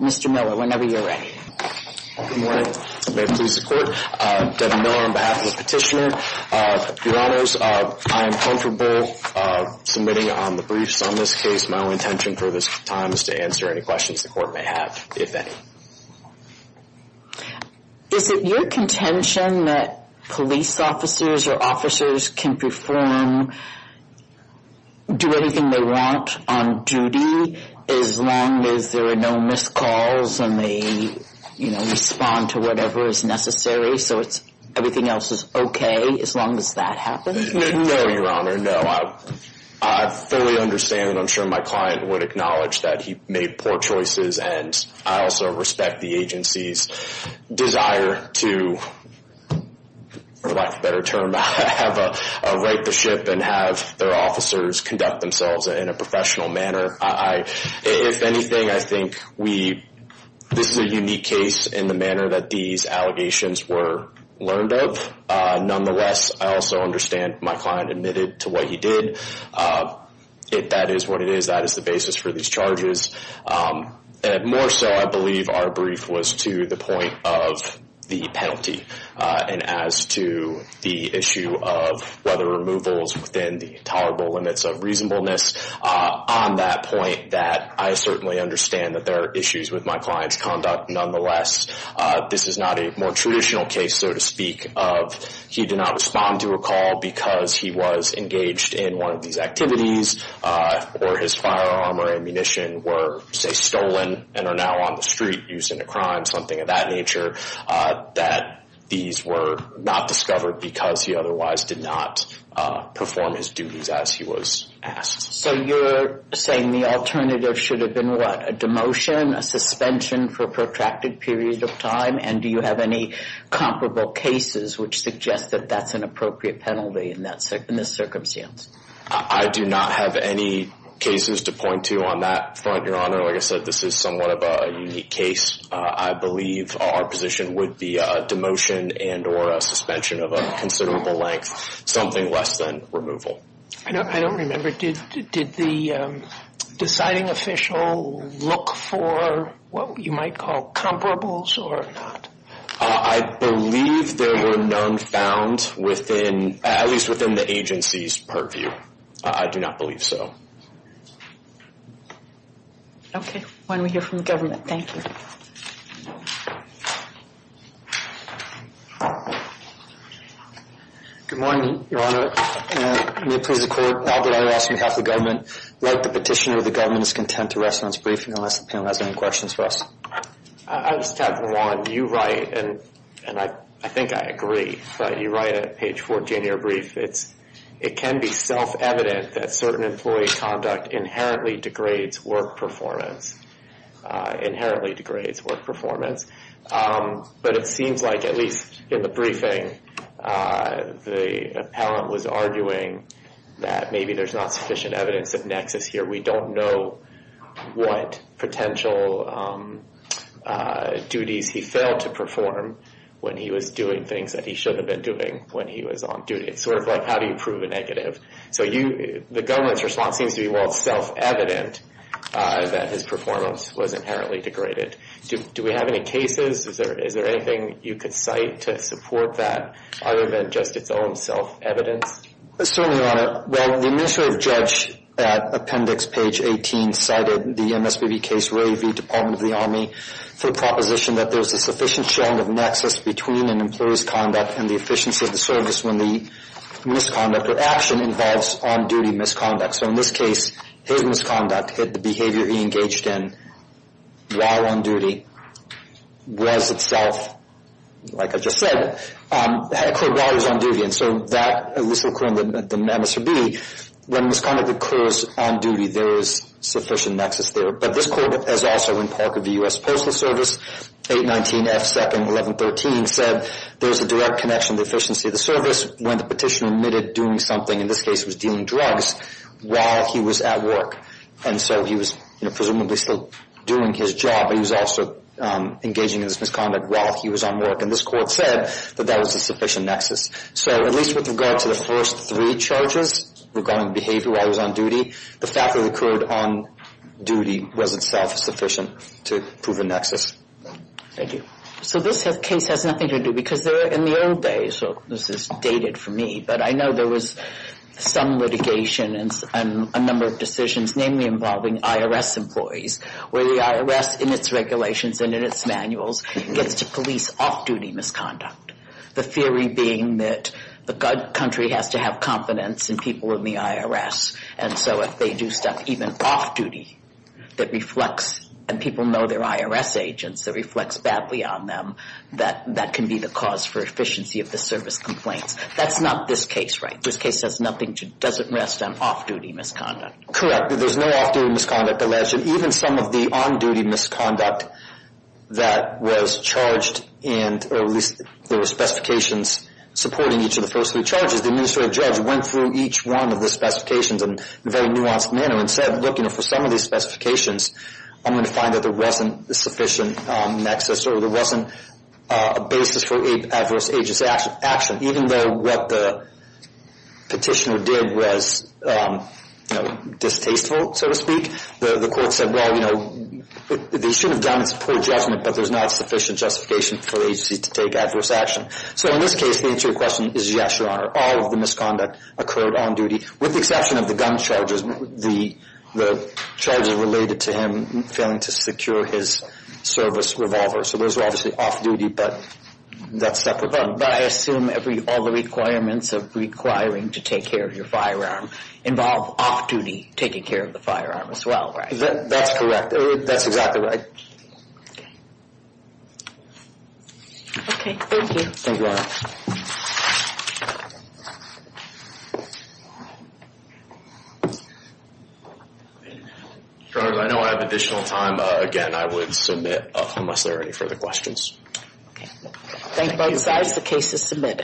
Mr. Miller, whenever you are ready. Good morning. May it please the court. Devin Miller on behalf of the petitioner. Your honors, I am comfortable submitting on the briefs on this case. My only intention for this time is to answer any questions the court may have, if any. Is it your contention that police officers or officers can perform, do anything they want on duty as long as there are no missed calls and they respond to whatever is necessary, so everything else is okay, as long as that happens? No, your honor, no. I fully understand and I'm sure my client would acknowledge that he made poor choices and I also respect the agency's desire to, for lack of a better term, write the ship and have their officers conduct themselves in a professional manner. If anything, I think we, this is a unique case in the manner that these allegations were learned of. Nonetheless, I also understand my client admitted to what he did. If that is what it is, that is the basis for these charges. More so, I believe our brief was to the point of the penalty and as to the issue of weather removals within the tolerable limits of reasonableness. On that point, I certainly understand that there are issues with my client's conduct. Nonetheless, this is not a more traditional case, so to speak, of he did not respond to a call because he was engaged in one of these activities or his firearm or ammunition were, say, stolen and are now on the street used in a crime, something of that nature, that these were not discovered because he otherwise did not perform his duties as he was asked. So you're saying the alternative should have been, what, a demotion, a suspension for a protracted period of time, and do you have any comparable cases which suggest that that's an appropriate penalty in this circumstance? I do not have any cases to point to on that front, Your Honor. Like I said, this is somewhat of a unique case. I believe our position would be a demotion and or a suspension of a considerable length, something less than removal. I don't remember. Did the deciding official look for what you might call comparables or not? I believe there were none found within, at least within the agency's purview. I do not believe so. Okay. Why don't we hear from the government? Thank you. Good morning, Your Honor. May it please the Court, Albert Iras on behalf of the government. Like the petitioner, the government is content to rest on its brief unless the panel has any questions for us. I just have one. You write, and I think I agree, but you write a page 4 January brief. It can be self-evident that certain employee conduct inherently degrades work performance. Inherently degrades work performance. But it seems like, at least in the briefing, the appellant was arguing that maybe there's not sufficient evidence of nexus here. We don't know what potential duties he failed to perform when he was doing things that he should have been doing when he was on duty. It's sort of like, how do you prove a negative? So the government's response seems to be, well, it's self-evident that his performance was inherently degraded. Do we have any cases? Is there anything you could cite to support that other than just its own self-evidence? Certainly, Your Honor. Well, the administrative judge at appendix page 18 cited the MSBB case, Ray v. Department of the Army, for the proposition that there's a sufficient showing of nexus between an employee's conduct and the efficiency of the service when the misconduct or action involves on-duty misconduct. So in this case, his misconduct hit the behavior he engaged in while on duty was itself, like I just said, occurred while he was on duty. And so that, at least according to the MSBB, when misconduct occurs on duty, there is sufficient nexus there. But this court has also, in part of the U.S. Postal Service, 819 F. 2nd 1113, said there's a direct connection to the efficiency of the service when the petitioner admitted doing something, in this case it was dealing drugs, while he was at work. And so he was presumably still doing his job, but he was also engaging in this misconduct while he was on work. And this court said that that was a sufficient nexus. So at least with regard to the first three charges regarding behavior while he was on duty, the fact that it occurred on duty was itself sufficient to prove a nexus. Thank you. So this case has nothing to do, because in the old days, this is dated for me, but I know there was some litigation and a number of decisions, namely involving IRS employees, where the IRS, in its regulations and in its manuals, gets to police off-duty misconduct. The theory being that the country has to have confidence in people in the IRS, and so if they do stuff, even off-duty, that reflects, and people know they're IRS agents, that reflects badly on them, that that can be the cause for efficiency of the service complaints. That's not this case, right? This case doesn't rest on off-duty misconduct. Correct. There's no off-duty misconduct alleged. But even some of the on-duty misconduct that was charged, and there were specifications supporting each of the first three charges, the administrative judge went through each one of the specifications in a very nuanced manner and said, look, for some of these specifications, I'm going to find that there wasn't a sufficient nexus or there wasn't a basis for adverse agent's action, even though what the petitioner did was distasteful, so to speak. The court said, well, you know, they shouldn't have done this poor judgment, but there's not sufficient justification for the agency to take adverse action. So in this case, the answer to your question is yes, Your Honor. All of the misconduct occurred on-duty, with the exception of the gun charges, the charges related to him failing to secure his service revolver. So those are obviously off-duty, but that's separate. But I assume all the requirements of requiring to take care of your firearm involve off-duty taking care of the firearm as well, right? That's correct. That's exactly right. Okay, thank you. Thank you, Your Honor. Your Honor, I know I have additional time. Again, I would submit unless there are any further questions. Thank you both. The case is submitted.